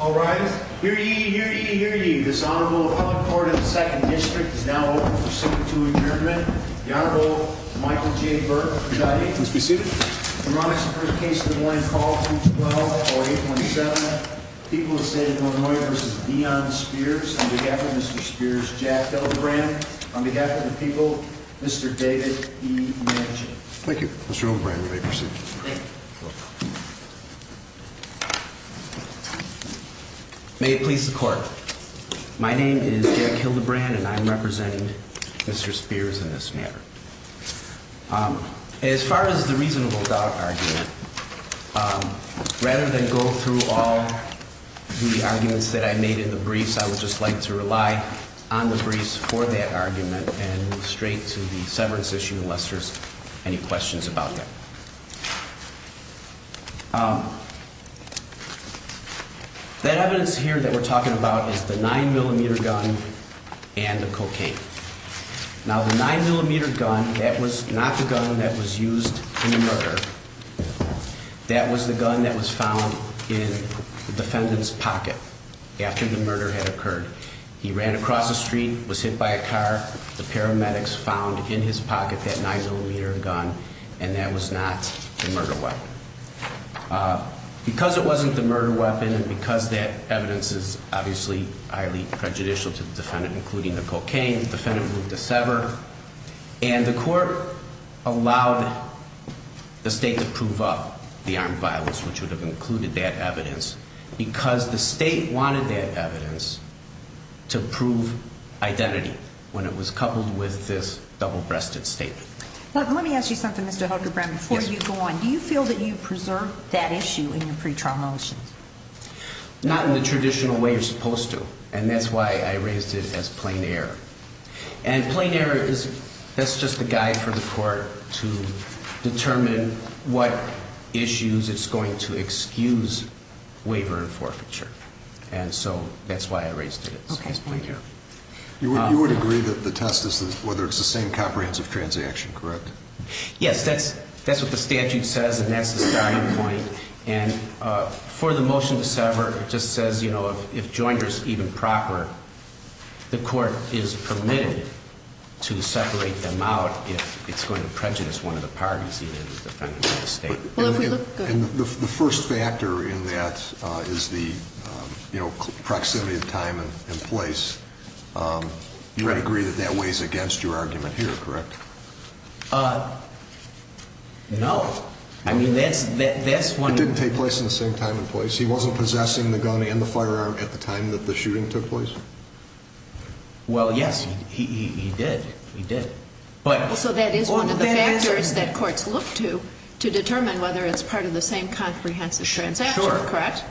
All rise. Hear ye, hear ye, hear ye. This Honorable Appellate Court of the 2nd District is now open for subpoena to adjournment. The Honorable Michael J. Burke, presiding. Please be seated. Harmonics and first case of the morning. Call 312-4817. People of the State of Illinois v. Deon Spears. On behalf of Mr. Spears, Jack L. O'Brien. On behalf of the people, Mr. David E. Manchin. Thank you, Mr. O'Brien. You may proceed. Thank you. May it please the Court. My name is Jack L. O'Brien and I'm representing Mr. Spears in this matter. As far as the reasonable doubt argument, rather than go through all the arguments that I made in the briefs, I would just like to rely on the briefs for that argument and move straight to the severance issue unless there's any questions about that. That evidence here that we're talking about is the 9mm gun and the cocaine. Now, the 9mm gun, that was not the gun that was used in the murder. That was the gun that was found in the defendant's pocket after the murder had occurred. He ran across the street, was hit by a car. The paramedics found in his pocket that 9mm gun and that was not the murder weapon. Because it wasn't the murder weapon and because that evidence is obviously highly prejudicial to the defendant, including the cocaine, the defendant moved to sever. And the Court allowed the State to prove up the armed violence, which would have included that evidence, because the State wanted that evidence to prove identity when it was coupled with this double-breasted statement. Let me ask you something, Mr. Hildebrand, before you go on. Do you feel that you preserved that issue in your pretrial motions? Not in the traditional way you're supposed to, and that's why I raised it as plain error. And plain error is just a guide for the Court to determine what issues it's going to excuse waiver and forfeiture. And so that's why I raised it as plain error. You would agree that the test is whether it's the same comprehensive transaction, correct? Yes, that's what the statute says, and that's the starting point. And for the motion to sever, it just says, you know, if joined or even proper, the Court is permitted to separate them out if it's going to prejudice one of the parties, either the defendant or the State. And the first factor in that is the, you know, proximity of time and place. You would agree that that weighs against your argument here, correct? No. I mean, that's one of the... It didn't take place in the same time and place. He wasn't possessing the gun and the firearm at the time that the shooting took place? Well, yes, he did. He did. So that is one of the factors that courts look to to determine whether it's part of the same comprehensive transaction, correct?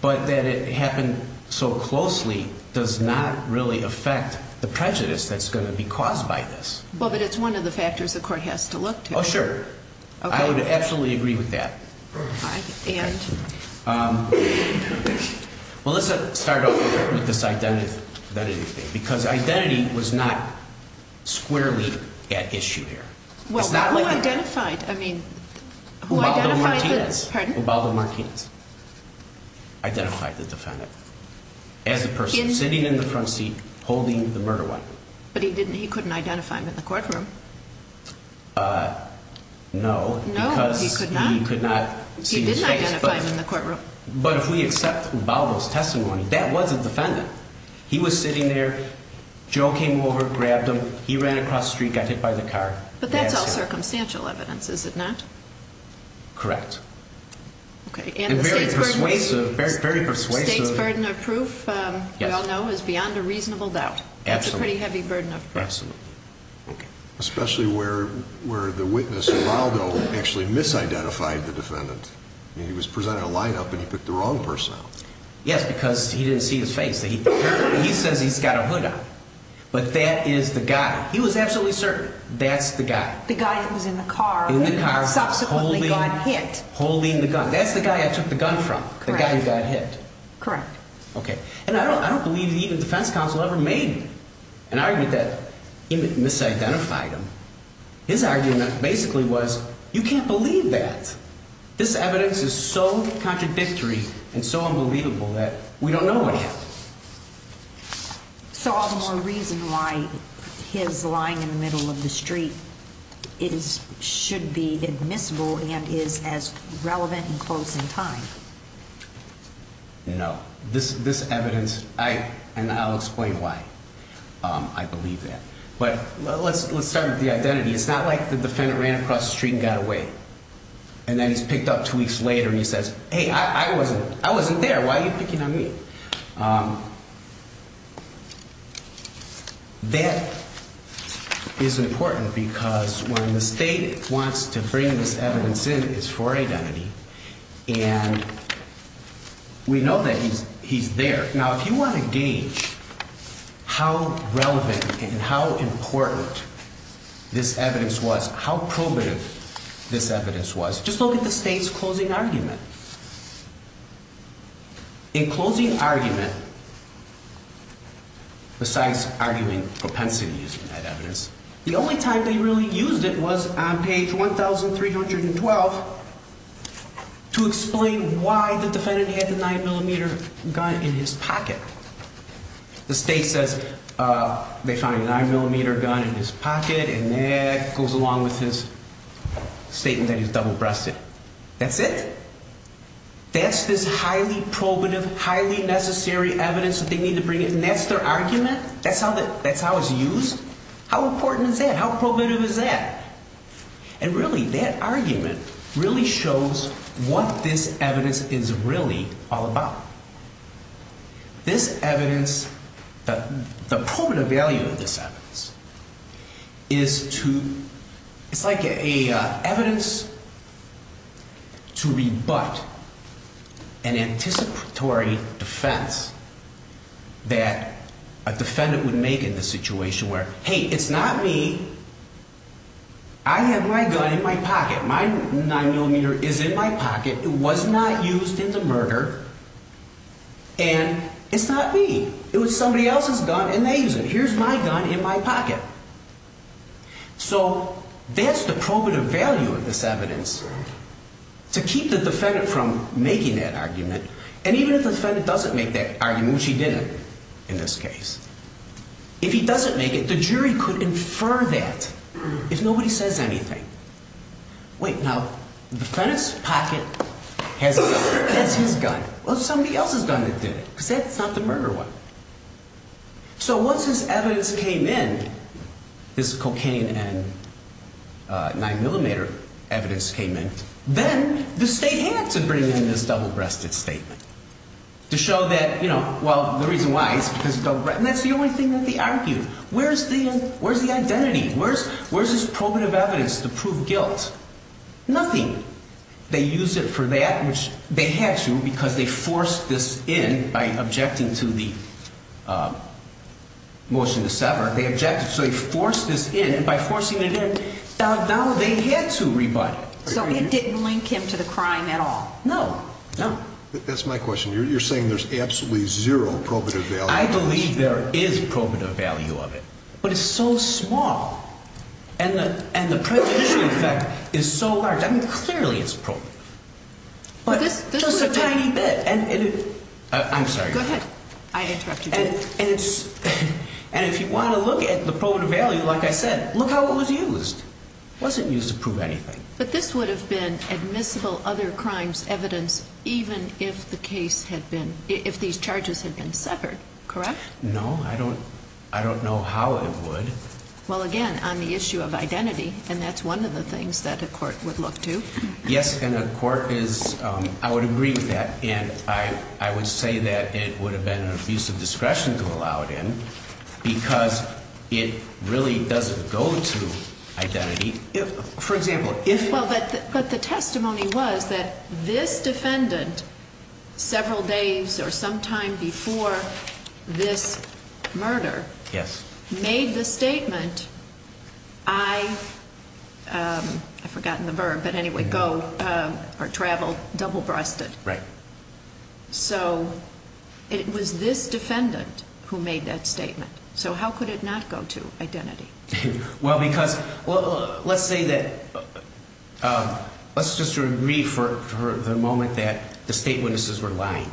But that it happened so closely does not really affect the prejudice that's going to be caused by this. Well, but it's one of the factors the Court has to look to. Oh, sure. I would absolutely agree with that. All right. And? Well, let's start off with this identity thing, because identity was not squarely at issue here. Well, who identified, I mean, who identified the... Identified the defendant as a person sitting in the front seat holding the murder weapon? But he didn't, he couldn't identify him in the courtroom. No, because he could not see his face. He didn't identify him in the courtroom. But if we accept Baldo's testimony, that was a defendant. He was sitting there. Joe came over, grabbed him. He ran across the street, got hit by the car. But that's all circumstantial evidence, is it not? Correct. Okay. And the State's burden of proof, we all know, is beyond a reasonable doubt. Absolutely. That's a pretty heavy burden of proof. Absolutely. Okay. Especially where the witness, Baldo, actually misidentified the defendant. I mean, he was presenting a lineup and he picked the wrong person. Yes, because he didn't see his face. He says he's got a hood on, but that is the guy. He was absolutely certain that's the guy. The guy that was in the car. In the car. Subsequently got hit. Holding the gun. That's the guy I took the gun from. Correct. The guy who got hit. Correct. Okay. And I don't believe even the defense counsel ever made an argument that he misidentified him. His argument basically was, you can't believe that. This evidence is so contradictory and so unbelievable that we don't know what happened. So all the more reason why his lying in the middle of the street should be admissible and is as relevant and close in time. No. This evidence, and I'll explain why I believe that. But let's start with the identity. It's not like the defendant ran across the street and got away. And then he's picked up two weeks later and he says, hey, I wasn't there. Why are you picking on me? That is important because when the state wants to bring this evidence in, it's for identity. And we know that he's there. Now, if you want to gauge how relevant and how important this evidence was, how probative this evidence was, just look at the state's closing argument. In closing argument, besides arguing propensity using that evidence, the only time they really used it was on page 1312 to explain why the defendant had the 9mm gun in his pocket. The state says they found a 9mm gun in his pocket and that goes along with his statement that he's double-breasted. That's it? That's this highly probative, highly necessary evidence that they need to bring in and that's their argument? That's how it's used? How important is that? How probative is that? And really, that argument really shows what this evidence is really all about. This evidence, the probative value of this evidence is to, it's like an evidence to rebut an anticipatory defense that a defendant would make in this situation where, hey, it's not me. I have my gun in my pocket. My 9mm is in my pocket. It was not used in the murder and it's not me. It was somebody else's gun and they used it. Here's my gun in my pocket. So that's the probative value of this evidence, to keep the defendant from making that argument. And even if the defendant doesn't make that argument, which he didn't in this case, if he doesn't make it, the jury could infer that if nobody says anything. Wait, now, the defendant's pocket has his gun. Well, it's somebody else's gun that did it because that's not the murder one. So once this evidence came in, this cocaine and 9mm evidence came in, then the state had to bring in this double-breasted statement to show that, you know, well, the reason why is because it's double-breasted. And that's the only thing that they argued. Where's the identity? Where's his probative evidence to prove guilt? Nothing. They used it for that, which they had to because they forced this in by objecting to the motion to sever. They objected. So they forced this in. And by forcing it in, now they had to rebut it. So it didn't link him to the crime at all? No, no. That's my question. You're saying there's absolutely zero probative value. I believe there is probative value of it. But it's so small. And the prejudicial effect is so large. I mean, clearly it's probative. But just a tiny bit. I'm sorry. Go ahead. I interrupted you. And if you want to look at the probative value, like I said, look how it was used. It wasn't used to prove anything. But this would have been admissible other crimes evidence even if the case had been, if these charges had been severed, correct? No, I don't know how it would. Well, again, on the issue of identity, and that's one of the things that a court would look to. Yes, and a court is, I would agree with that. And I would say that it would have been an abuse of discretion to allow it in because it really doesn't go to identity. Well, but the testimony was that this defendant several days or sometime before this murder made the statement, I, I've forgotten the verb, but anyway, go or travel double-breasted. Right. So it was this defendant who made that statement. So how could it not go to identity? Well, because, well, let's say that, let's just agree for the moment that the state witnesses were lying.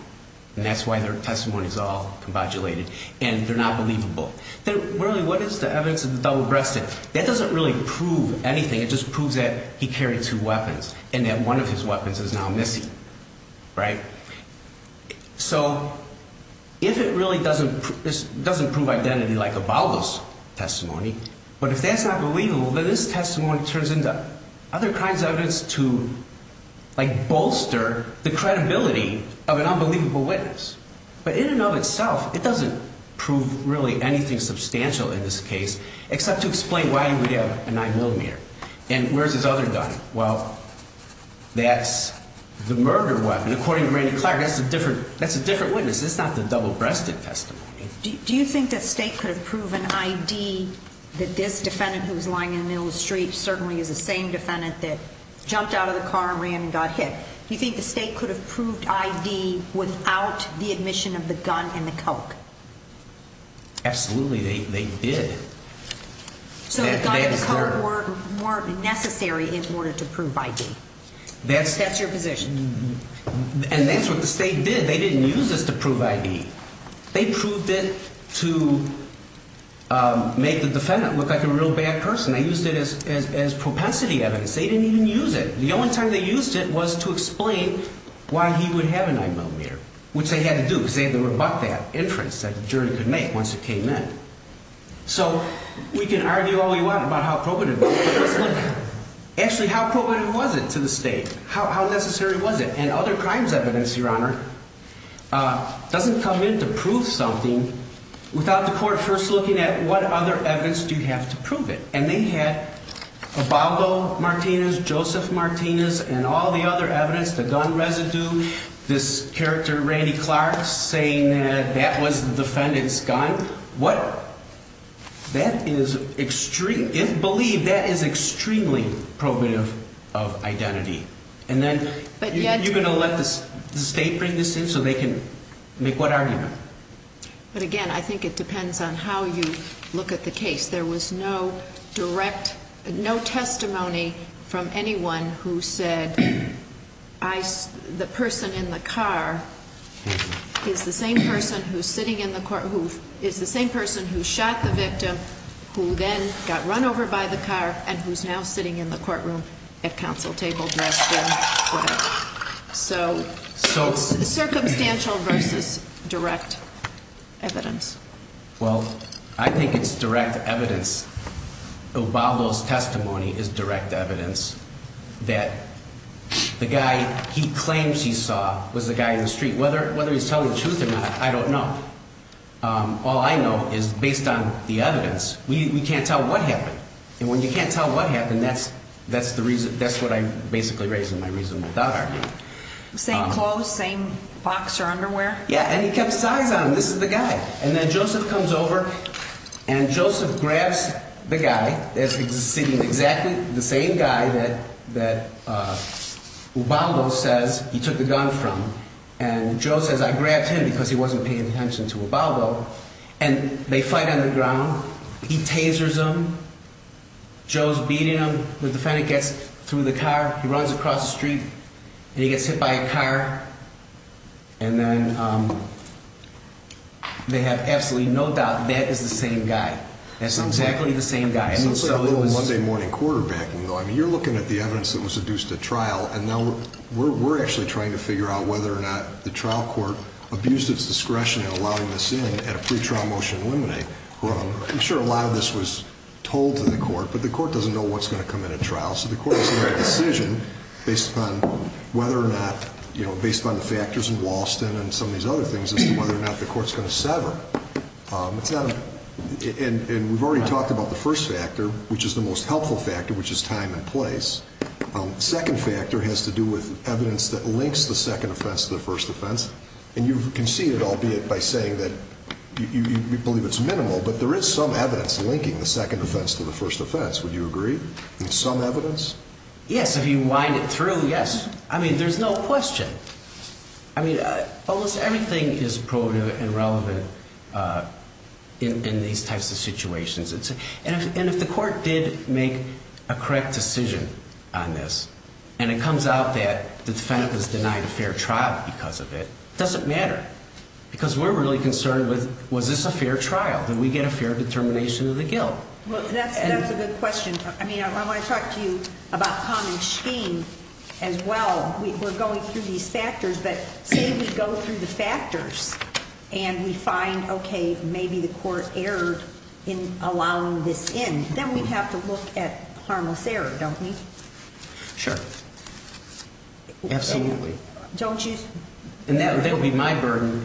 And that's why their testimony is all modulated. And they're not believable. Really, what is the evidence of the double-breasted? That doesn't really prove anything. It just proves that he carried two weapons and that one of his weapons is now missing. Right. So if it really doesn't, it doesn't prove identity like Ibalo's testimony, but if that's not believable, then this testimony turns into other kinds of evidence to, like, bolster the credibility of an unbelievable witness. But in and of itself, it doesn't prove really anything substantial in this case except to explain why he would have a 9mm. And where's his other gun? Well, that's the murder weapon. According to Randy Clark, that's a different witness. That's not the double-breasted testimony. Do you think the state could have proven I.D. that this defendant who was lying in the middle of the street certainly is the same defendant that jumped out of the car and ran and got hit? Do you think the state could have proved I.D. without the admission of the gun and the coke? Absolutely, they did. So the gun and the coke weren't necessary in order to prove I.D.? That's your position? And that's what the state did. They didn't use this to prove I.D. They proved it to make the defendant look like a real bad person. They used it as propensity evidence. They didn't even use it. The only time they used it was to explain why he would have a 9mm, which they had to do because they had to rebut that inference that the jury could make once it came in. So we can argue all we want about how probative it was. Actually, how probative was it to the state? How necessary was it? And other crimes evidence, Your Honor, doesn't come in to prove something without the court first looking at what other evidence do you have to prove it? And they had Abago Martinez, Joseph Martinez, and all the other evidence, the gun residue, this character Randy Clark saying that that was the defendant's gun. What? That is extreme. If believed, that is extremely probative of identity. And then you're going to let the state bring this in so they can make what argument? But, again, I think it depends on how you look at the case. There was no direct, no testimony from anyone who said the person in the car is the same person who's sitting in the court, who is the same person who shot the victim, who then got run over by the car, and who's now sitting in the courtroom at counsel table dressed in red. So it's circumstantial versus direct evidence. Well, I think it's direct evidence. Abago's testimony is direct evidence that the guy he claims he saw was the guy in the street. Whether he's telling the truth or not, I don't know. All I know is, based on the evidence, we can't tell what happened. And when you can't tell what happened, that's what I'm basically raising my reasonable doubt argument. Same clothes, same boxer underwear? Yeah, and he kept size on him. This is the guy. And then Joseph comes over, and Joseph grabs the guy that's sitting exactly the same guy that Abago says he took the gun from. And Joe says, I grabbed him because he wasn't paying attention to Abago. And they fight on the ground. He tasers him. Joe's beating him. The defendant gets through the car. He runs across the street, and he gets hit by a car. And then they have absolutely no doubt that is the same guy. That's exactly the same guy. So it's a little Monday morning quarterbacking, though. I mean, you're looking at the evidence that was adduced at trial. And now we're actually trying to figure out whether or not the trial court abused its discretion in allowing this in at a pretrial motion to eliminate. I'm sure a lot of this was told to the court, but the court doesn't know what's going to come in at trial. So the court is going to make a decision based upon whether or not, you know, based upon the factors in Walston and some of these other things as to whether or not the court's going to sever. And we've already talked about the first factor, which is the most helpful factor, which is time and place. The second factor has to do with evidence that links the second offense to the first offense. And you can see it, albeit by saying that you believe it's minimal, but there is some evidence linking the second offense to the first offense. Would you agree? Some evidence? Yes, if you wind it through, yes. I mean, there's no question. I mean, almost everything is probative and relevant in these types of situations. And if the court did make a correct decision on this and it comes out that the defendant was denied a fair trial because of it, it doesn't matter. Because we're really concerned with was this a fair trial? Did we get a fair determination of the guilt? Well, that's a good question. I mean, I want to talk to you about common scheme as well. We're going through these factors. But say we go through the factors and we find, okay, maybe the court erred in allowing this in. Then we have to look at harmless error, don't we? Sure. Absolutely. Don't you? And that would be my burden.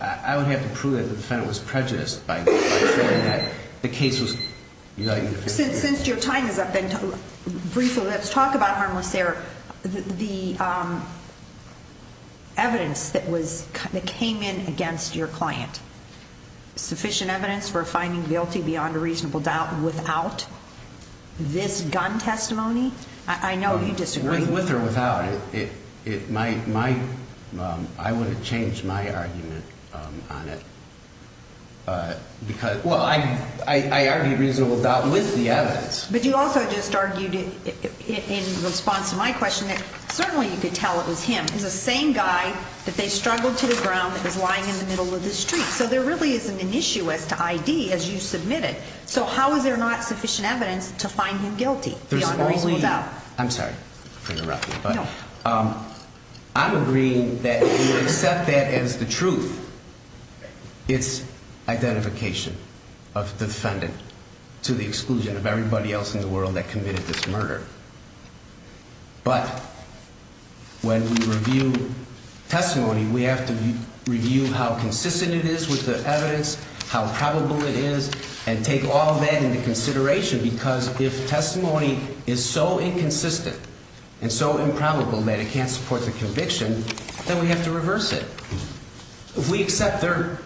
I would have to prove that the defendant was prejudiced by saying that the case was denied. Since your time is up, then briefly let's talk about harmless error. The evidence that came in against your client, sufficient evidence for finding guilty beyond a reasonable doubt without this gun testimony? I know you disagree. With or without. I would have changed my argument on it because, well, I argued reasonable doubt with the evidence. But you also just argued in response to my question that certainly you could tell it was him. It was the same guy that they struggled to the ground that was lying in the middle of the street. So there really isn't an issue as to I.D. as you submitted. So how is there not sufficient evidence to find him guilty beyond a reasonable doubt? I'm sorry to interrupt you, but I'm agreeing that you accept that as the truth. It's identification of the defendant to the exclusion of everybody else in the world that committed this murder. But when we review testimony, we have to review how consistent it is with the evidence, how probable it is, and take all that into consideration. Because if testimony is so inconsistent and so improbable that it can't support the conviction, then we have to reverse it. If we accept their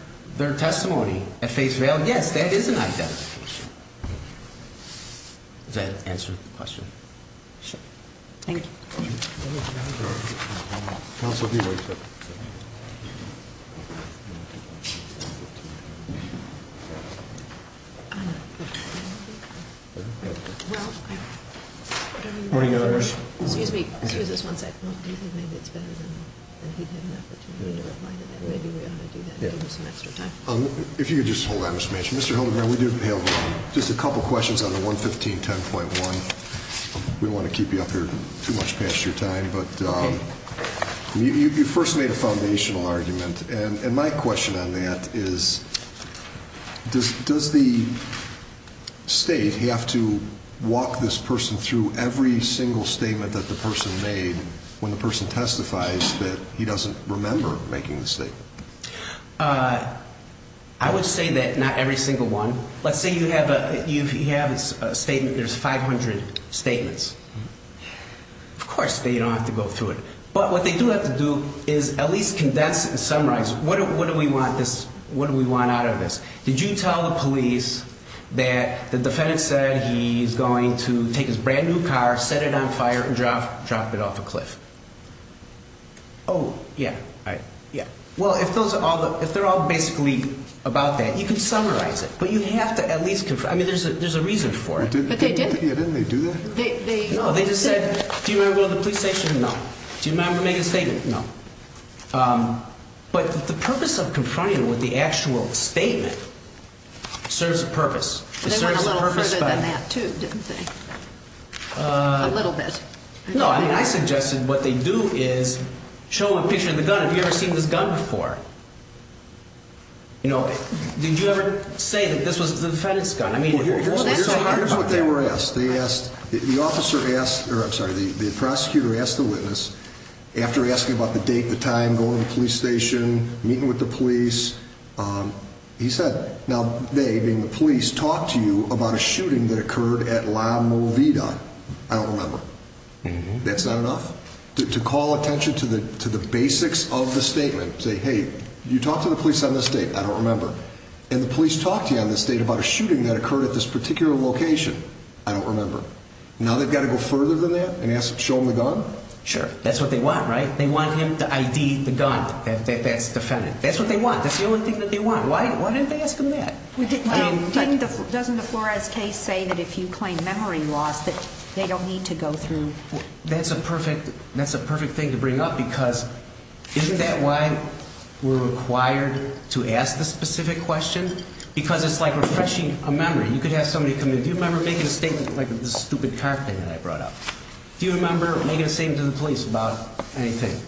testimony at face value, yes, that is an identification. Does that answer the question? Sure. Thank you. All right. Counsel, if you would. Morning, Your Honor. Excuse me. Excuse us one second. Do you think maybe it's better than he'd have an opportunity to reply to that? Maybe we ought to do that and give him some extra time. If you could just hold that, Mr. Manchin. Mr. Holdenbrown, we do have just a couple questions on the 11510.1. We don't want to keep you up here too much past your time, but you first made a foundational argument. And my question on that is, does the state have to walk this person through every single statement that the person made when the person testifies that he doesn't remember making the statement? I would say that not every single one. Let's say you have a statement, there's 500 statements. Of course, they don't have to go through it. But what they do have to do is at least condense and summarize what do we want out of this. Did you tell the police that the defendant said he's going to take his brand-new car, set it on fire, and drop it off a cliff? Oh, yeah. All right. Yeah. You can summarize it, but you have to at least confirm. I mean, there's a reason for it. Didn't they do that? No, they just said, do you remember going to the police station? No. Do you remember making a statement? No. But the purpose of confronting them with the actual statement serves a purpose. They went a little further than that, too, didn't they? A little bit. No, I mean, I suggested what they do is show a picture of the gun. Have you ever seen this gun before? You know, did you ever say that this was the defendant's gun? Here's what they were asked. The prosecutor asked the witness, after asking about the date, the time, going to the police station, meeting with the police, he said, now they, being the police, talked to you about a shooting that occurred at La Movida. I don't remember. That's not enough? To call attention to the basics of the statement, say, hey, you talked to the police on this date. I don't remember. And the police talked to you on this date about a shooting that occurred at this particular location. I don't remember. Now they've got to go further than that and show them the gun? Sure. That's what they want, right? They want him to ID the gun. That's the defendant. That's what they want. That's the only thing that they want. Why didn't they ask him that? Well, doesn't the Flores case say that if you claim memory loss that they don't need to go through? That's a perfect thing to bring up because isn't that why we're required to ask the specific question? Because it's like refreshing a memory. You could ask somebody, do you remember making a statement like this stupid car thing that I brought up? Do you remember making a statement to the police about anything,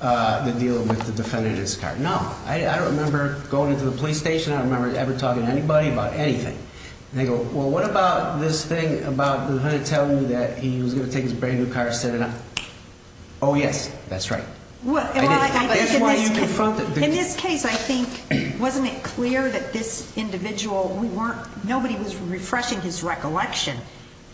the deal with the defendant and his car? No. I don't remember going to the police station. I don't remember ever talking to anybody about anything. They go, well, what about this thing about the defendant telling you that he was going to take his brand-new car and set it up? Oh, yes. That's right. In this case, I think, wasn't it clear that this individual, nobody was refreshing his recollection.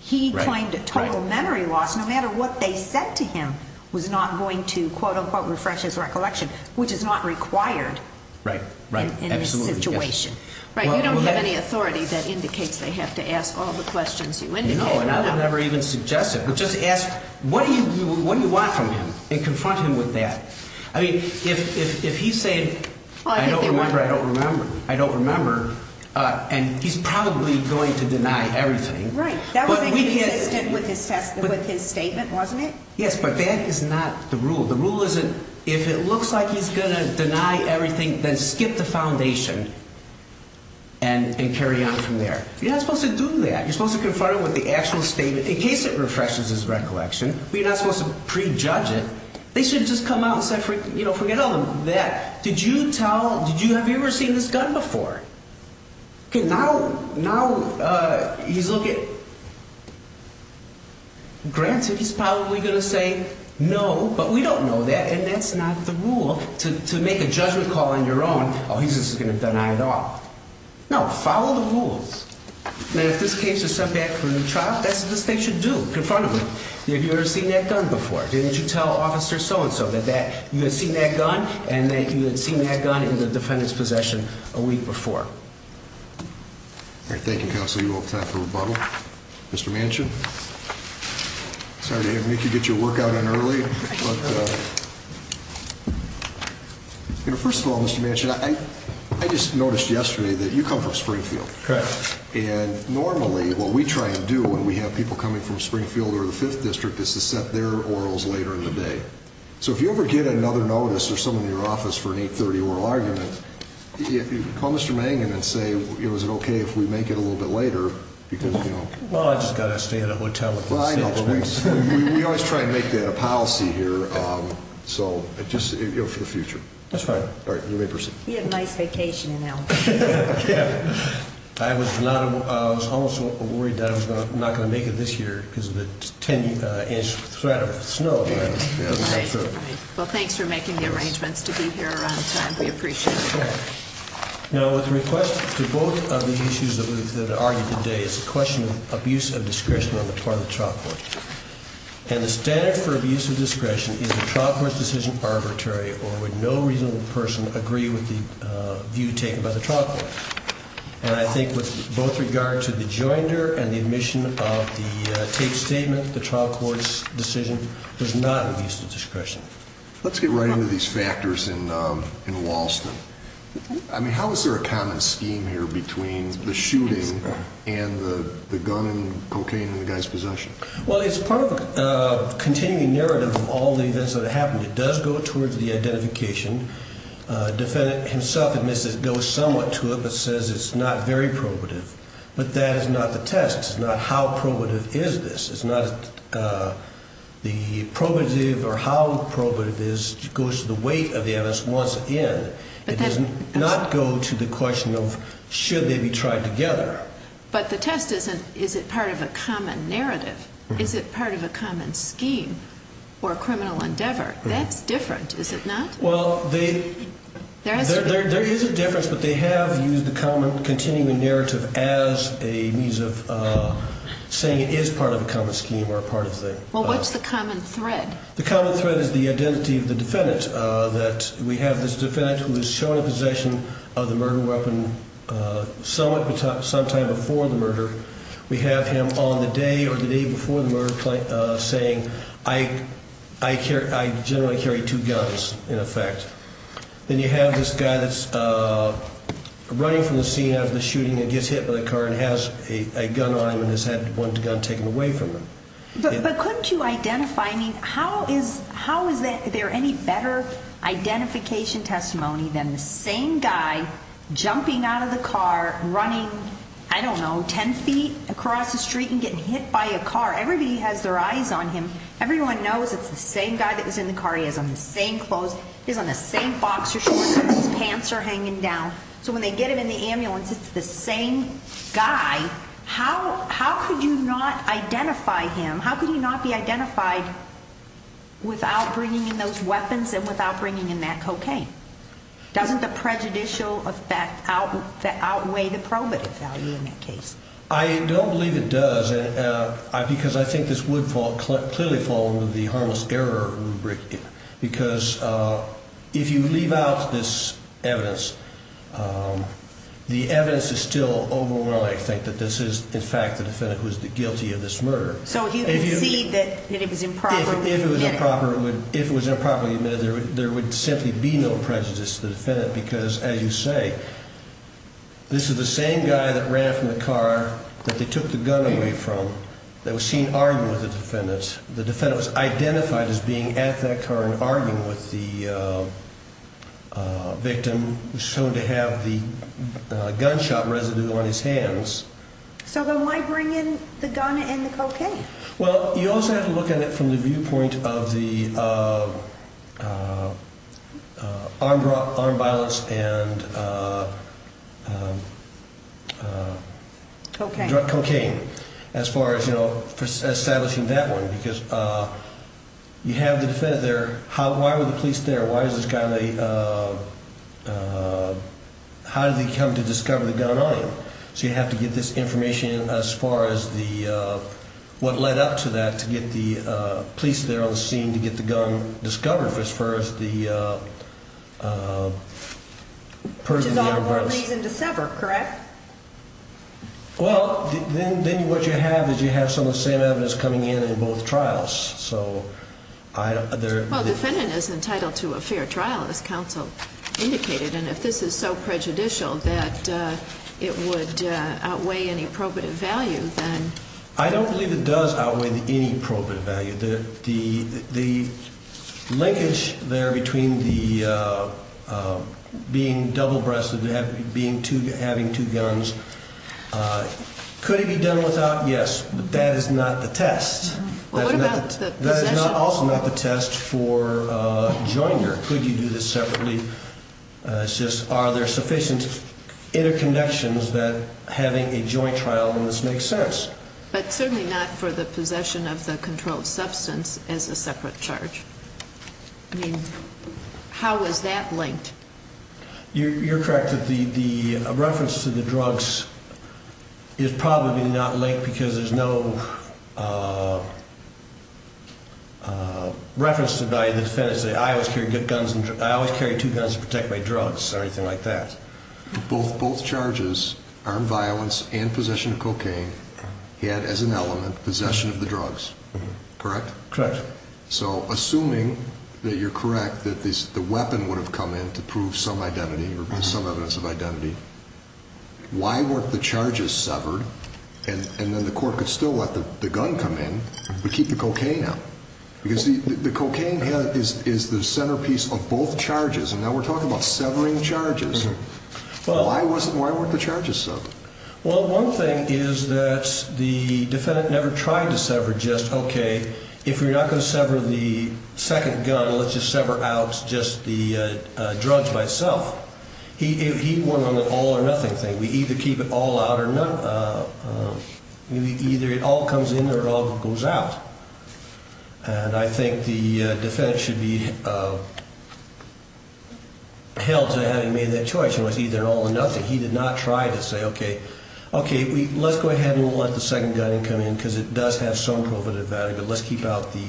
He claimed a total memory loss no matter what they said to him was not going to, quote-unquote, refresh his recollection, which is not required in this situation. Right. You don't have any authority that indicates they have to ask all the questions you indicated. No, and I would never even suggest it. Just ask what do you want from him and confront him with that. I mean, if he's saying, I don't remember, I don't remember, I don't remember, and he's probably going to deny everything. Right. That was inconsistent with his statement, wasn't it? Yes, but that is not the rule. The rule isn't if it looks like he's going to deny everything, then skip the foundation and carry on from there. You're not supposed to do that. You're supposed to confront him with the actual statement in case it refreshes his recollection. You're not supposed to prejudge it. They should have just come out and said, you know, forget all that. Did you tell, have you ever seen this gun before? Now he's looking, granted, he's probably going to say no, but we don't know that, and that's not the rule. To make a judgment call on your own, oh, he's just going to deny it all. No, follow the rules. Now, if this case is sent back for a new trial, that's what this case should do, confront him with, have you ever seen that gun before? Didn't you tell Officer so-and-so that you had seen that gun and that you had seen that gun in the defendant's possession a week before? All right, thank you, Counsel. You all have time for rebuttal. Mr. Manchin, sorry to make you get your work out in early, but, you know, first of all, Mr. Manchin, I just noticed yesterday that you come from Springfield. Correct. And normally what we try and do when we have people coming from Springfield or the 5th District is to set their orals later in the day. So if you ever get another notice or someone in your office for an 830 oral argument, call Mr. Manchin and say, you know, is it okay if we make it a little bit later? Because, you know. Well, I've just got to stay at a hotel. We always try and make that a policy here. So just for the future. That's right. All right, you may proceed. He had a nice vacation in Alabama. Yeah. I was almost worried that I was not going to make it this year because of the 10-inch threat of snow. Well, thanks for making the arrangements to be here around the time. We appreciate it. Now, with request to both of the issues that are argued today is the question of abuse of discretion on the part of the trial court. And the standard for abuse of discretion is the trial court's decision arbitrary or would no reasonable person agree with the view taken by the trial court. And I think with both regard to the joinder and the admission of the taped statement, the trial court's decision was not abuse of discretion. Let's get right into these factors in Walston. I mean, how is there a common scheme here between the shooting and the gun and cocaine in the guy's possession? Well, it's part of a continuing narrative of all the events that have happened. It does go towards the identification. Defendant himself admits it goes somewhat to it but says it's not very probative. But that is not the test. It's not how probative is this. It's not the probative or how probative this goes to the weight of the evidence once in. It does not go to the question of should they be tried together. But the test isn't is it part of a common narrative? Is it part of a common scheme or a criminal endeavor? That's different, is it not? Well, there is a difference, but they have used the common continuing narrative as a means of saying it is part of a common scheme or part of the. Well, what's the common thread? The common thread is the identity of the defendant. We have this defendant who is shown in possession of the murder weapon sometime before the murder. We have him on the day or the day before the murder saying I generally carry two guns in effect. Then you have this guy that's running from the scene after the shooting and gets hit by a car and has a gun on him and has had one gun taken away from him. But couldn't you identify, I mean, how is there any better identification testimony than the same guy jumping out of the car running, I don't know, 10 feet across the street and getting hit by a car? Everybody has their eyes on him. Everyone knows it's the same guy that was in the car. He has on the same clothes. He's on the same boxer shorts. His pants are hanging down. So when they get him in the ambulance, it's the same guy. How could you not identify him? How could he not be identified without bringing in those weapons and without bringing in that cocaine? Doesn't the prejudicial effect outweigh the probative value in that case? I don't believe it does because I think this would clearly fall under the harmless error rubric. Because if you leave out this evidence, the evidence is still overwhelming. I think that this is, in fact, the defendant who is guilty of this murder. So you concede that it was improperly admitted. If it was improperly admitted, there would simply be no prejudice to the defendant because, as you say, this is the same guy that ran from the car that they took the gun away from that was seen arguing with the defendant. The defendant was identified as being at that car and arguing with the victim, shown to have the gunshot residue on his hands. So then why bring in the gun and the cocaine? Well, you also have to look at it from the viewpoint of the armed violence and cocaine as far as establishing that one. Because you have the defendant there. Why were the police there? How did they come to discover the gun on him? So you have to get this information as far as what led up to that to get the police there on the scene to get the gun discovered as far as the person being arrested. Which is all the more reason to sever, correct? Well, then what you have is you have some of the same evidence coming in in both trials. Well, the defendant is entitled to a fair trial, as counsel indicated. And if this is so prejudicial that it would outweigh any probative value, then? I don't believe it does outweigh any probative value. The linkage there between being double-breasted, having two guns, could it be done without? Yes, but that is not the test. Well, what about the possession? That is also not the test for joiner. Could you do this separately? It's just are there sufficient interconnections that having a joint trial in this makes sense? But certainly not for the possession of the controlled substance as a separate charge. I mean, how is that linked? You're correct that the reference to the drugs is probably not linked because there's no reference to the defendant saying, I always carry two guns to protect my drugs or anything like that. Both charges, armed violence and possession of cocaine, had as an element possession of the drugs, correct? Correct. So assuming that you're correct that the weapon would have come in to prove some identity or some evidence of identity, why weren't the charges severed and then the court could still let the gun come in but keep the cocaine out? Because the cocaine is the centerpiece of both charges, and now we're talking about severing charges. Why weren't the charges severed? Well, one thing is that the defendant never tried to sever just, okay, if we're not going to sever the second gun, let's just sever out just the drugs by itself. He went on the all or nothing thing. We either keep it all out or none. Either it all comes in or it all goes out. And I think the defendant should be held to having made that choice. It was either an all or nothing. He did not try to say, okay, let's go ahead and let the second gun come in because it does have some provocative value, but let's keep out the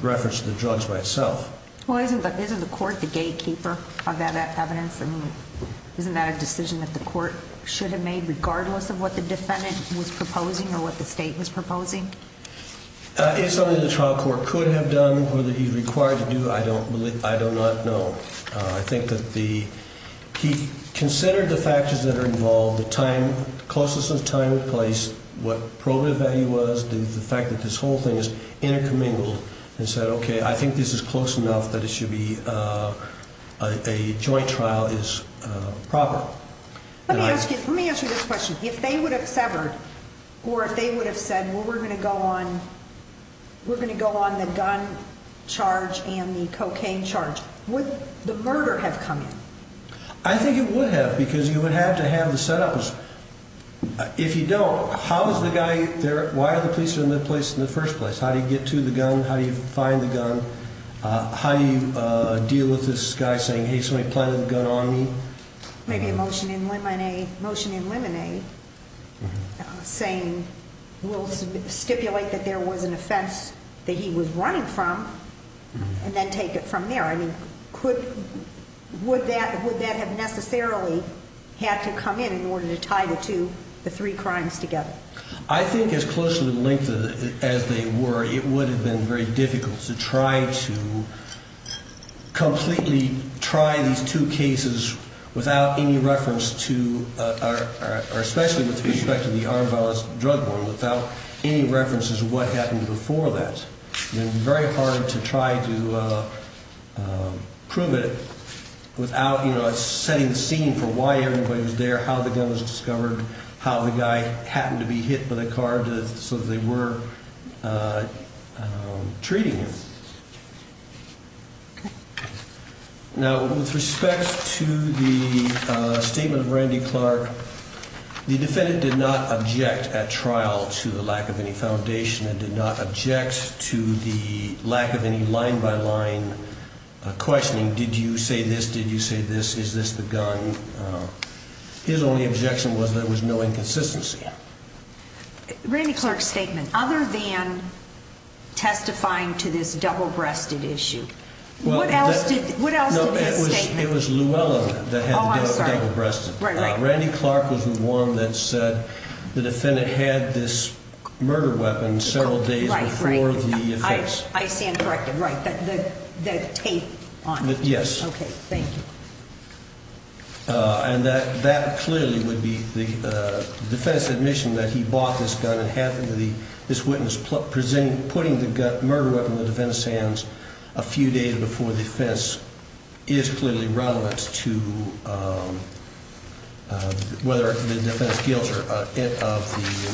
reference to the drugs by itself. Well, isn't the court the gatekeeper of that evidence? I mean, isn't that a decision that the court should have made regardless of what the defendant was proposing or what the state was proposing? It's something the trial court could have done or that he's required to do. I do not know. I think that he considered the factors that are involved, the closest of time and place, what provocative value was, the fact that this whole thing is intercommingled and said, okay, I think this is close enough that it should be a joint trial is proper. Let me ask you this question. If they would have severed or if they would have said, well, we're going to go on the gun charge and the cocaine charge, would the murder have come in? I think it would have because you would have to have the set up. If you don't, how is the guy there? Why are the police in that place in the first place? How do you get to the gun? How do you find the gun? How do you deal with this guy saying, hey, somebody planted the gun on me? Maybe a motion in limine, motion in limine saying we'll stipulate that there was an offense that he was running from and then take it from there. I mean, would that have necessarily had to come in in order to tie the three crimes together? I think as closely linked as they were, it would have been very difficult to try to completely try these two cases without any reference to, or especially with respect to the armed violence drug war, without any references to what happened before that. It would be very hard to try to prove it without setting the scene for why everybody was there, how the gun was discovered, how the guy happened to be hit by the car so that they were treating him. Now, with respect to the statement of Randy Clark, the defendant did not object at trial to the lack of any foundation and did not object to the lack of any line-by-line questioning. Did you say this? Did you say this? Is this the gun? His only objection was there was no inconsistency. Randy Clark's statement, other than testifying to this double-breasted issue, what else did he state? It was Luella that had the double-breasted. Right, right. Randy Clark was the one that said the defendant had this murder weapon several days before the offense. I stand corrected. Right. The tape on it. Yes. Okay. Thank you. And that clearly would be the defense's admission that he bought this gun and happened to be this witness putting the murder weapon in the defendant's hands a few days before the offense is clearly relevant to whether the defense guilty of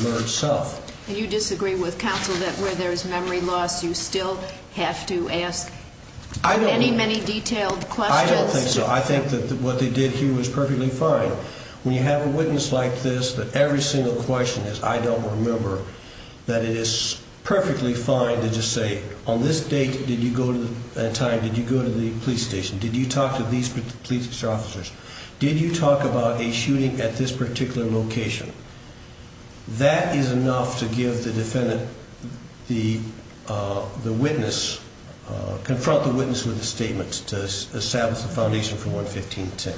the murder itself. And you disagree with counsel that where there's memory loss, you still have to ask many, many detailed questions? I don't think so. I think that what they did here was perfectly fine. When you have a witness like this, that every single question is, I don't remember, that it is perfectly fine to just say, on this date and time, did you go to the police station? Did you talk to these police officers? Did you talk about a shooting at this particular location? That is enough to confront the witness with a statement to establish a foundation for 11510.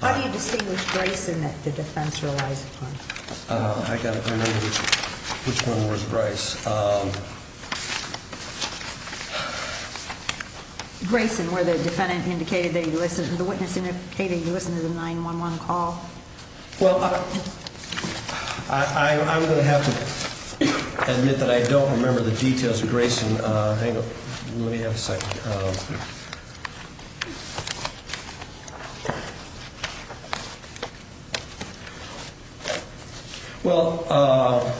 How do you distinguish Grayson that the defense relies upon? I've got to remember which one was Bryce. Grayson, where the witness indicated he listened to the 911 call? Well, I'm going to have to admit that I don't remember the details of Grayson. Let me have a second. Well,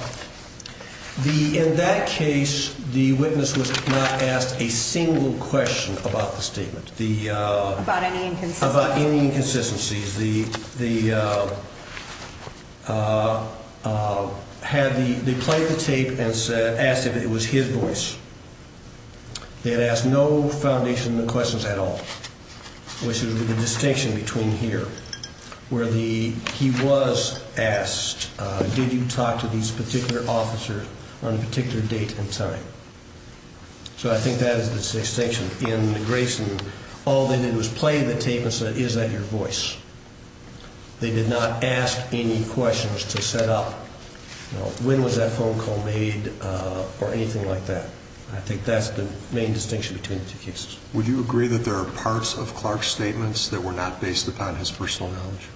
in that case, the witness was not asked a single question about the statement. About any inconsistencies? About any inconsistencies. They played the tape and asked if it was his voice. They had asked no foundation questions at all, which is the distinction between here, where he was asked, did you talk to these particular officers on a particular date and time? So I think that is the distinction. In Grayson, all they did was play the tape and said, is that your voice? They did not ask any questions to set up when was that phone call made or anything like that. I think that's the main distinction between the two cases. Would you agree that there are parts of Clark's statements that were not based upon his personal knowledge?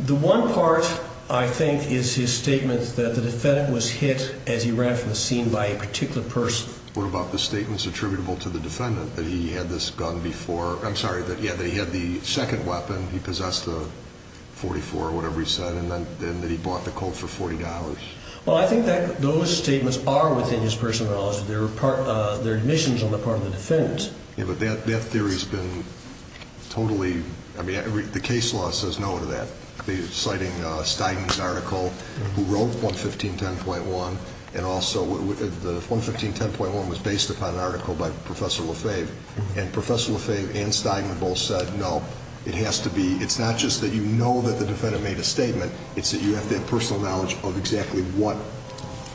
The one part, I think, is his statement that the defendant was hit as he ran from the scene by a particular person. What about the statements attributable to the defendant that he had this gun before? I'm sorry, that he had the second weapon, he possessed a .44 or whatever he said, and that he bought the Colt for $40? Well, I think that those statements are within his personal knowledge. They're admissions on the part of the defendant. Yeah, but that theory has been totally, I mean, the case law says no to that. Citing Steinman's article, who wrote 11510.1, and also, 11510.1 was based upon an article by Professor Lefebvre, and Professor Lefebvre and Steinman both said, no, it has to be, it's not just that you know that the defendant made a statement, it's that you have to have personal knowledge of exactly what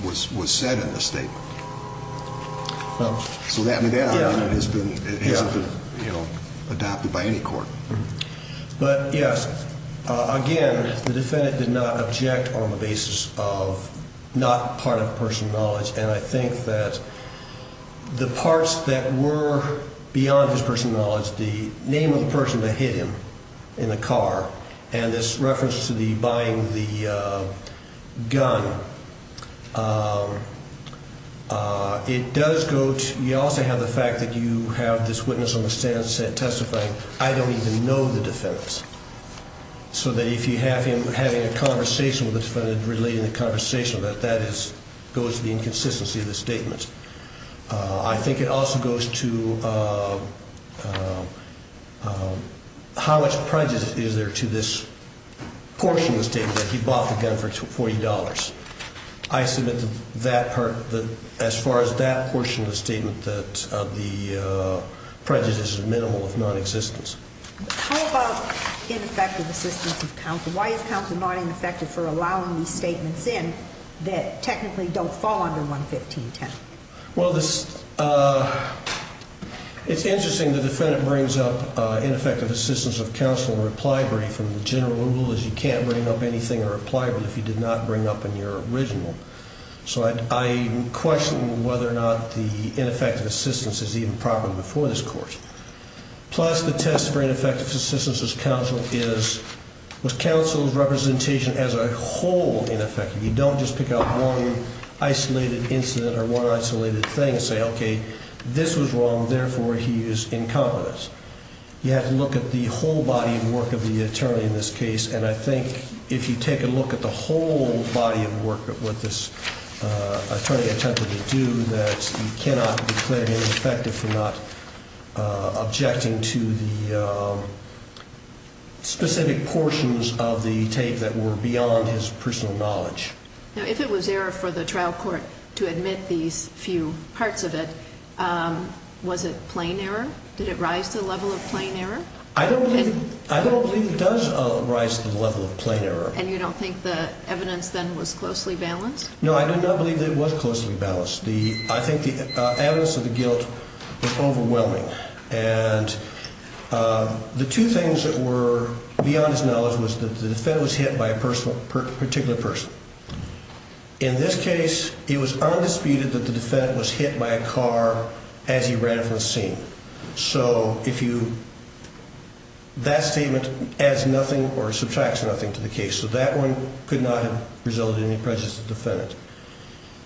was said in the statement. So that argument has been adopted by any court. But, yes, again, the defendant did not object on the basis of not part of personal knowledge, and I think that the parts that were beyond his personal knowledge, the name of the person that hit him in the car, and this reference to the buying the gun, it does go to, you also have the fact that you have this witness on the stand testifying, I don't even know the defendant. So that if you have him having a conversation with the defendant relating to the conversation, that that goes to the inconsistency of the statement. I think it also goes to how much prejudice is there to this portion of the statement that he bought the gun for $40. I submit to that part, as far as that portion of the statement, that the prejudice is minimal if nonexistent. How about ineffective assistance of counsel? Why is counsel not ineffective for allowing these statements in that technically don't fall under 11510? Well, it's interesting the defendant brings up ineffective assistance of counsel in a reply brief, and the general rule is you can't bring up anything in a reply brief if you did not bring up in your original. So I question whether or not the ineffective assistance is even proper before this court. Plus, the test for ineffective assistance of counsel is with counsel's representation as a whole ineffective. You don't just pick out one isolated incident or one isolated thing and say, okay, this was wrong, therefore he is incompetent. You have to look at the whole body of work of the attorney in this case, and I think if you take a look at the whole body of work of what this attorney attempted to do, that he cannot declare ineffective for not objecting to the specific portions of the tape that were beyond his personal knowledge. Now, if it was error for the trial court to admit these few parts of it, was it plain error? Did it rise to the level of plain error? I don't believe it does rise to the level of plain error. And you don't think the evidence then was closely balanced? No, I do not believe that it was closely balanced. I think the evidence of the guilt was overwhelming. And the two things that were beyond his knowledge was that the defendant was hit by a particular person. In this case, it was undisputed that the defendant was hit by a car as he ran from the scene. So that statement adds nothing or subtracts nothing to the case. So that one could not have resulted in any prejudice to the defendant.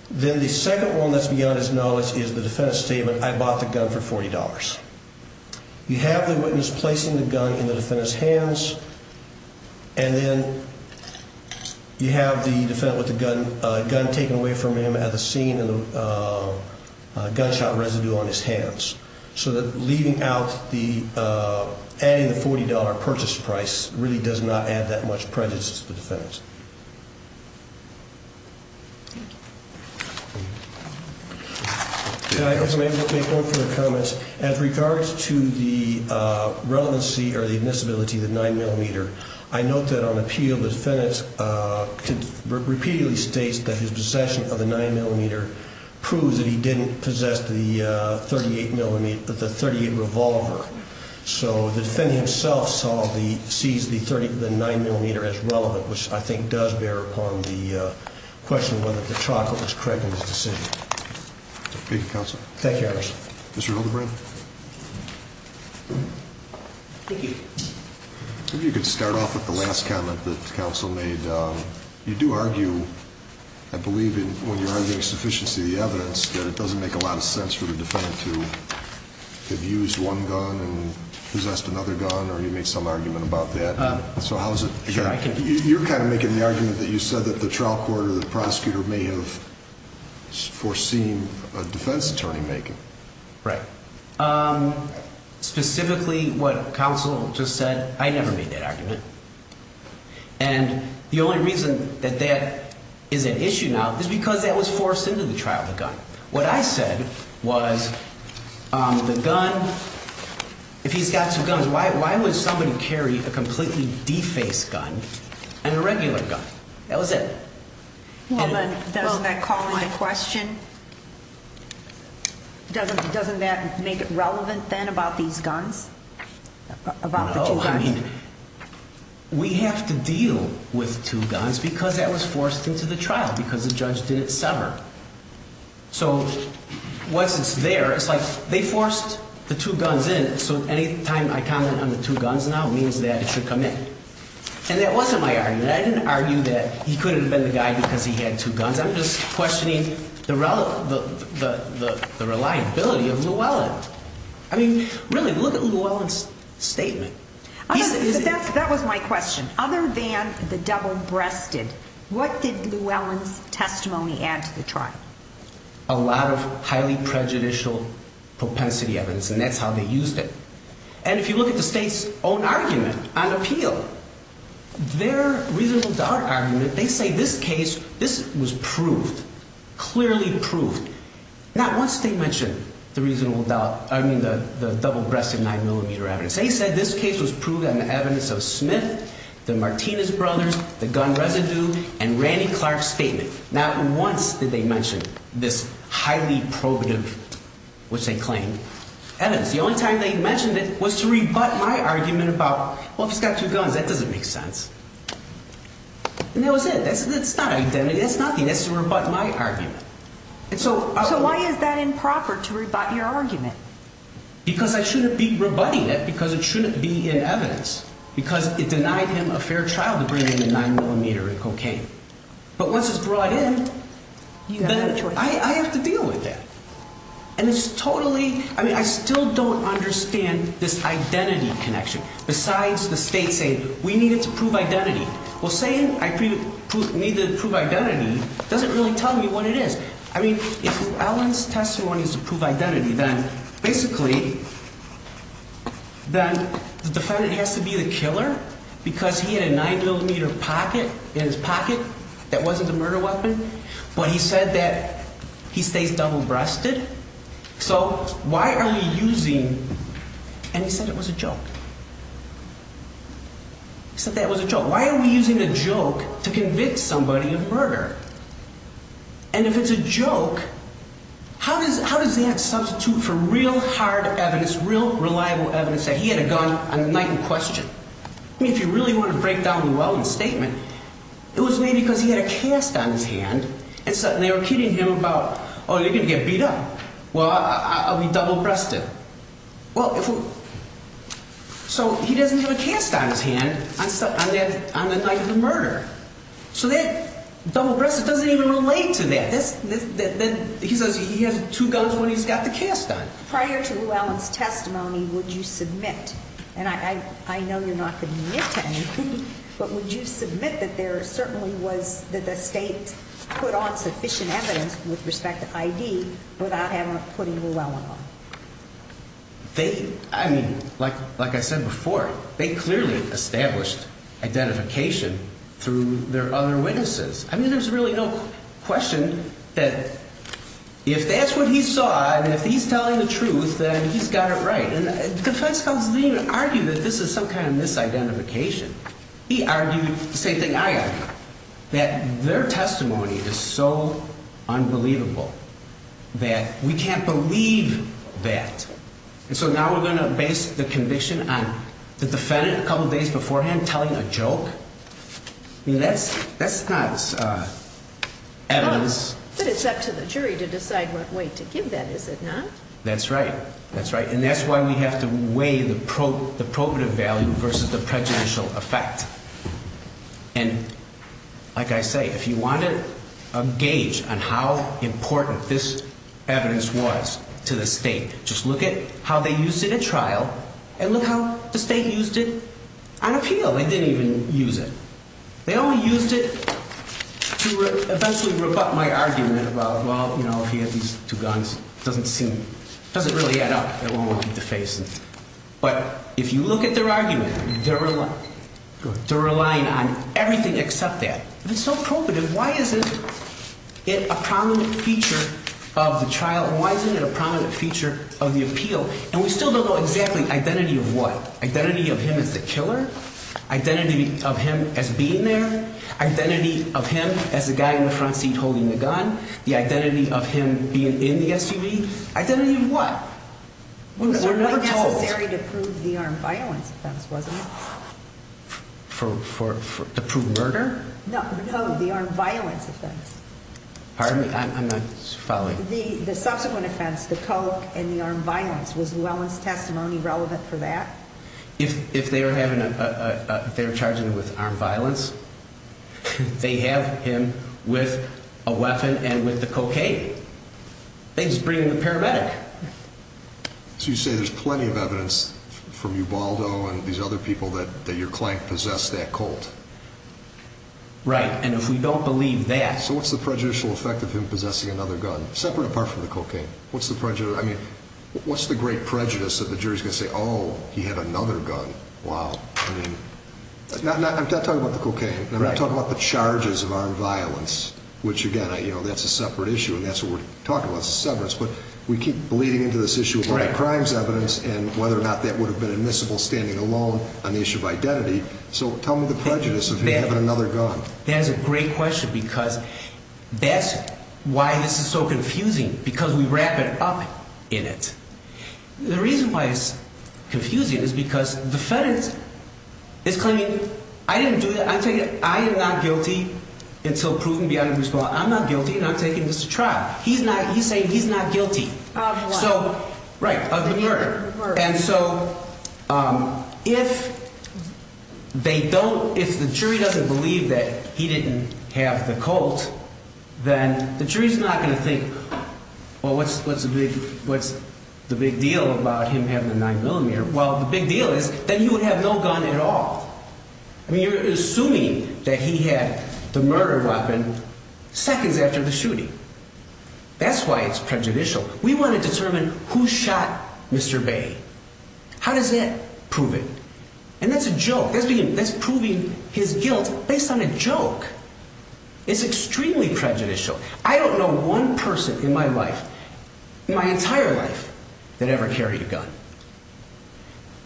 Then the second one that's beyond his knowledge is the defendant's statement, I bought the gun for $40. You have the witness placing the gun in the defendant's hands, and then you have the defendant with the gun taken away from him at the scene and the gunshot residue on his hands. So that leaving out the adding the $40 purchase price really does not add that much prejudice to the defendant. Can I make one further comment? As regards to the relevancy or the admissibility of the 9mm, I note that on appeal the defendant repeatedly states that his possession of the 9mm proves that he didn't possess the .38 revolver. So the defendant himself sees the 9mm as relevant, which I think does bear upon the question whether the trial court was correct in his decision. Thank you, Counsel. Thank you, Your Honor. Mr. Hildebrand? Thank you. Maybe you could start off with the last comment that counsel made. You do argue, I believe when you're arguing sufficiency of the evidence, that it doesn't make a lot of sense for the defendant to have used one gun and possessed another gun, or you made some argument about that. So how is it? You're kind of making the argument that you said that the trial court or the prosecutor may have foreseen a defense attorney making. Right. Specifically what counsel just said, I never made that argument. And the only reason that that is an issue now is because that was forced into the trial with a gun. What I said was the gun, if he's got two guns, why would somebody carry a completely defaced gun and a regular gun? That was it. Doesn't that call into question, doesn't that make it relevant then about these guns, about the two guns? I mean, we have to deal with two guns because that was forced into the trial because the judge didn't sever. So once it's there, it's like they forced the two guns in, so any time I comment on the two guns now means that it should come in. And that wasn't my argument. I didn't argue that he couldn't have been the guy because he had two guns. I'm just questioning the reliability of Llewellyn. I mean, really, look at Llewellyn's statement. That was my question. Other than the double-breasted, what did Llewellyn's testimony add to the trial? A lot of highly prejudicial propensity evidence, and that's how they used it. And if you look at the state's own argument on appeal, their reasonable doubt argument, they say this case, this was proved, clearly proved. Not once did they mention the reasonable doubt, I mean, the double-breasted 9-millimeter evidence. They said this case was proved on the evidence of Smith, the Martinez brothers, the gun residue, and Randy Clark's statement. Not once did they mention this highly probative, which they claimed, evidence. The only time they mentioned it was to rebut my argument about, well, if he's got two guns, that doesn't make sense. And that was it. That's not identity. That's nothing. That's to rebut my argument. So why is that improper, to rebut your argument? Because I shouldn't be rebutting it, because it shouldn't be in evidence, because it denied him a fair trial to bring in a 9-millimeter in cocaine. But once it's brought in, then I have to deal with that. And it's totally, I mean, I still don't understand this identity connection, besides the state saying, we need it to prove identity. Well, saying I need it to prove identity doesn't really tell me what it is. I mean, if Allen's testimony is to prove identity, then basically, then the defendant has to be the killer because he had a 9-millimeter pocket in his pocket that wasn't a murder weapon. But he said that he stays double-breasted. So why are you using, and he said it was a joke. He said that was a joke. Why are we using a joke to convict somebody of murder? And if it's a joke, how does that substitute for real hard evidence, real reliable evidence that he had a gun on the night in question? I mean, if you really want to break down the Weldon statement, it was maybe because he had a cast on his hand, and they were kidding him about, oh, you're going to get beat up. Well, I'll be double-breasted. Well, so he doesn't have a cast on his hand on the night of the murder. So that double-breasted doesn't even relate to that. Then he says he has two guns when he's got the cast on. Prior to Llewellyn's testimony, would you submit, and I know you're not going to admit to anything, but would you submit that there certainly was, that the state put on sufficient evidence with respect to I.D. without ever putting Llewellyn on? They, I mean, like I said before, they clearly established identification through their other witnesses. I mean, there's really no question that if that's what he saw and if he's telling the truth, then he's got it right. And defense counsel didn't even argue that this is some kind of misidentification. He argued the same thing I argued, that their testimony is so unbelievable that we can't believe that. And so now we're going to base the conviction on the defendant a couple days beforehand telling a joke? I mean, that's not evidence. But it's up to the jury to decide what weight to give that, is it not? That's right. That's right. And that's why we have to weigh the probative value versus the prejudicial effect. And like I say, if you want to gauge on how important this evidence was to the state, just look at how they used it in trial and look how the state used it on appeal. They didn't even use it. They only used it to eventually rebut my argument about, well, you know, if he had these two guns, it doesn't seem, it doesn't really add up. It won't keep the face. But if you look at their argument, they're relying on everything except that. If it's so probative, why isn't it a prominent feature of the trial? Why isn't it a prominent feature of the appeal? And we still don't know exactly identity of what. Identity of him as the killer? Identity of him as being there? Identity of him as the guy in the front seat holding the gun? The identity of him being in the SUV? Identity of what? We're never told. It was only necessary to prove the armed violence offense, wasn't it? To prove murder? No, the armed violence offense. Pardon me? I'm not following. The subsequent offense, the coke and the armed violence, was Llewellyn's testimony relevant for that? If they were charging him with armed violence, they have him with a weapon and with the cocaine. They just bring in the paramedic. So you say there's plenty of evidence from Ubaldo and these other people that your client possessed that coke? Right, and if we don't believe that. So what's the prejudicial effect of him possessing another gun, separate apart from the cocaine? What's the great prejudice that the jury's going to say, oh, he had another gun? Wow. I'm not talking about the cocaine. I'm not talking about the charges of armed violence, which, again, that's a separate issue, and that's what we're talking about. That's a separate issue. But we keep bleeding into this issue of other crimes evidence and whether or not that would have been admissible standing alone on the issue of identity. So tell me the prejudice of him having another gun. That is a great question because that's why this is so confusing, because we wrap it up in it. The reason why it's confusing is because the fed is claiming I didn't do that. I'm taking it. I am not guilty until proven beyond response. I'm not guilty. I'm taking this trial. He's not. So, right, of the murder. And so if they don't, if the jury doesn't believe that he didn't have the colt, then the jury's not going to think, well, what's the big deal about him having a 9mm? Well, the big deal is that he would have no gun at all. I mean, you're assuming that he had the murder weapon seconds after the shooting. That's why it's prejudicial. We want to determine who shot Mr. Bay. How does that prove it? And that's a joke. That's proving his guilt based on a joke. It's extremely prejudicial. I don't know one person in my life, in my entire life, that ever carried a gun.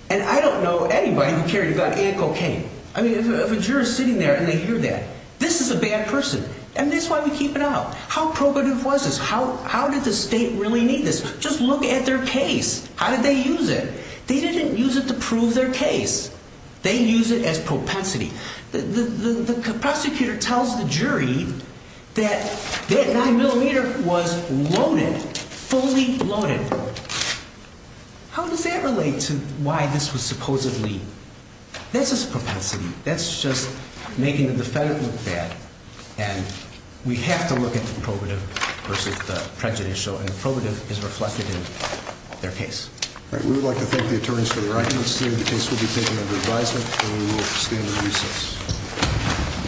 And I don't know anybody who carried a gun and cocaine. I mean, if a juror's sitting there and they hear that, this is a bad person. And that's why we keep it out. How probative was this? How did the state really need this? Just look at their case. How did they use it? They didn't use it to prove their case. They used it as propensity. The prosecutor tells the jury that that 9mm was loaded, fully loaded. How does that relate to why this was supposedly? That's just propensity. That's just making the defendant look bad. And we have to look at the probative versus the prejudicial. And the probative is reflected in their case. All right. We would like to thank the attorneys for their arguments today. The case will be taken under advisement, and we will stand in recess.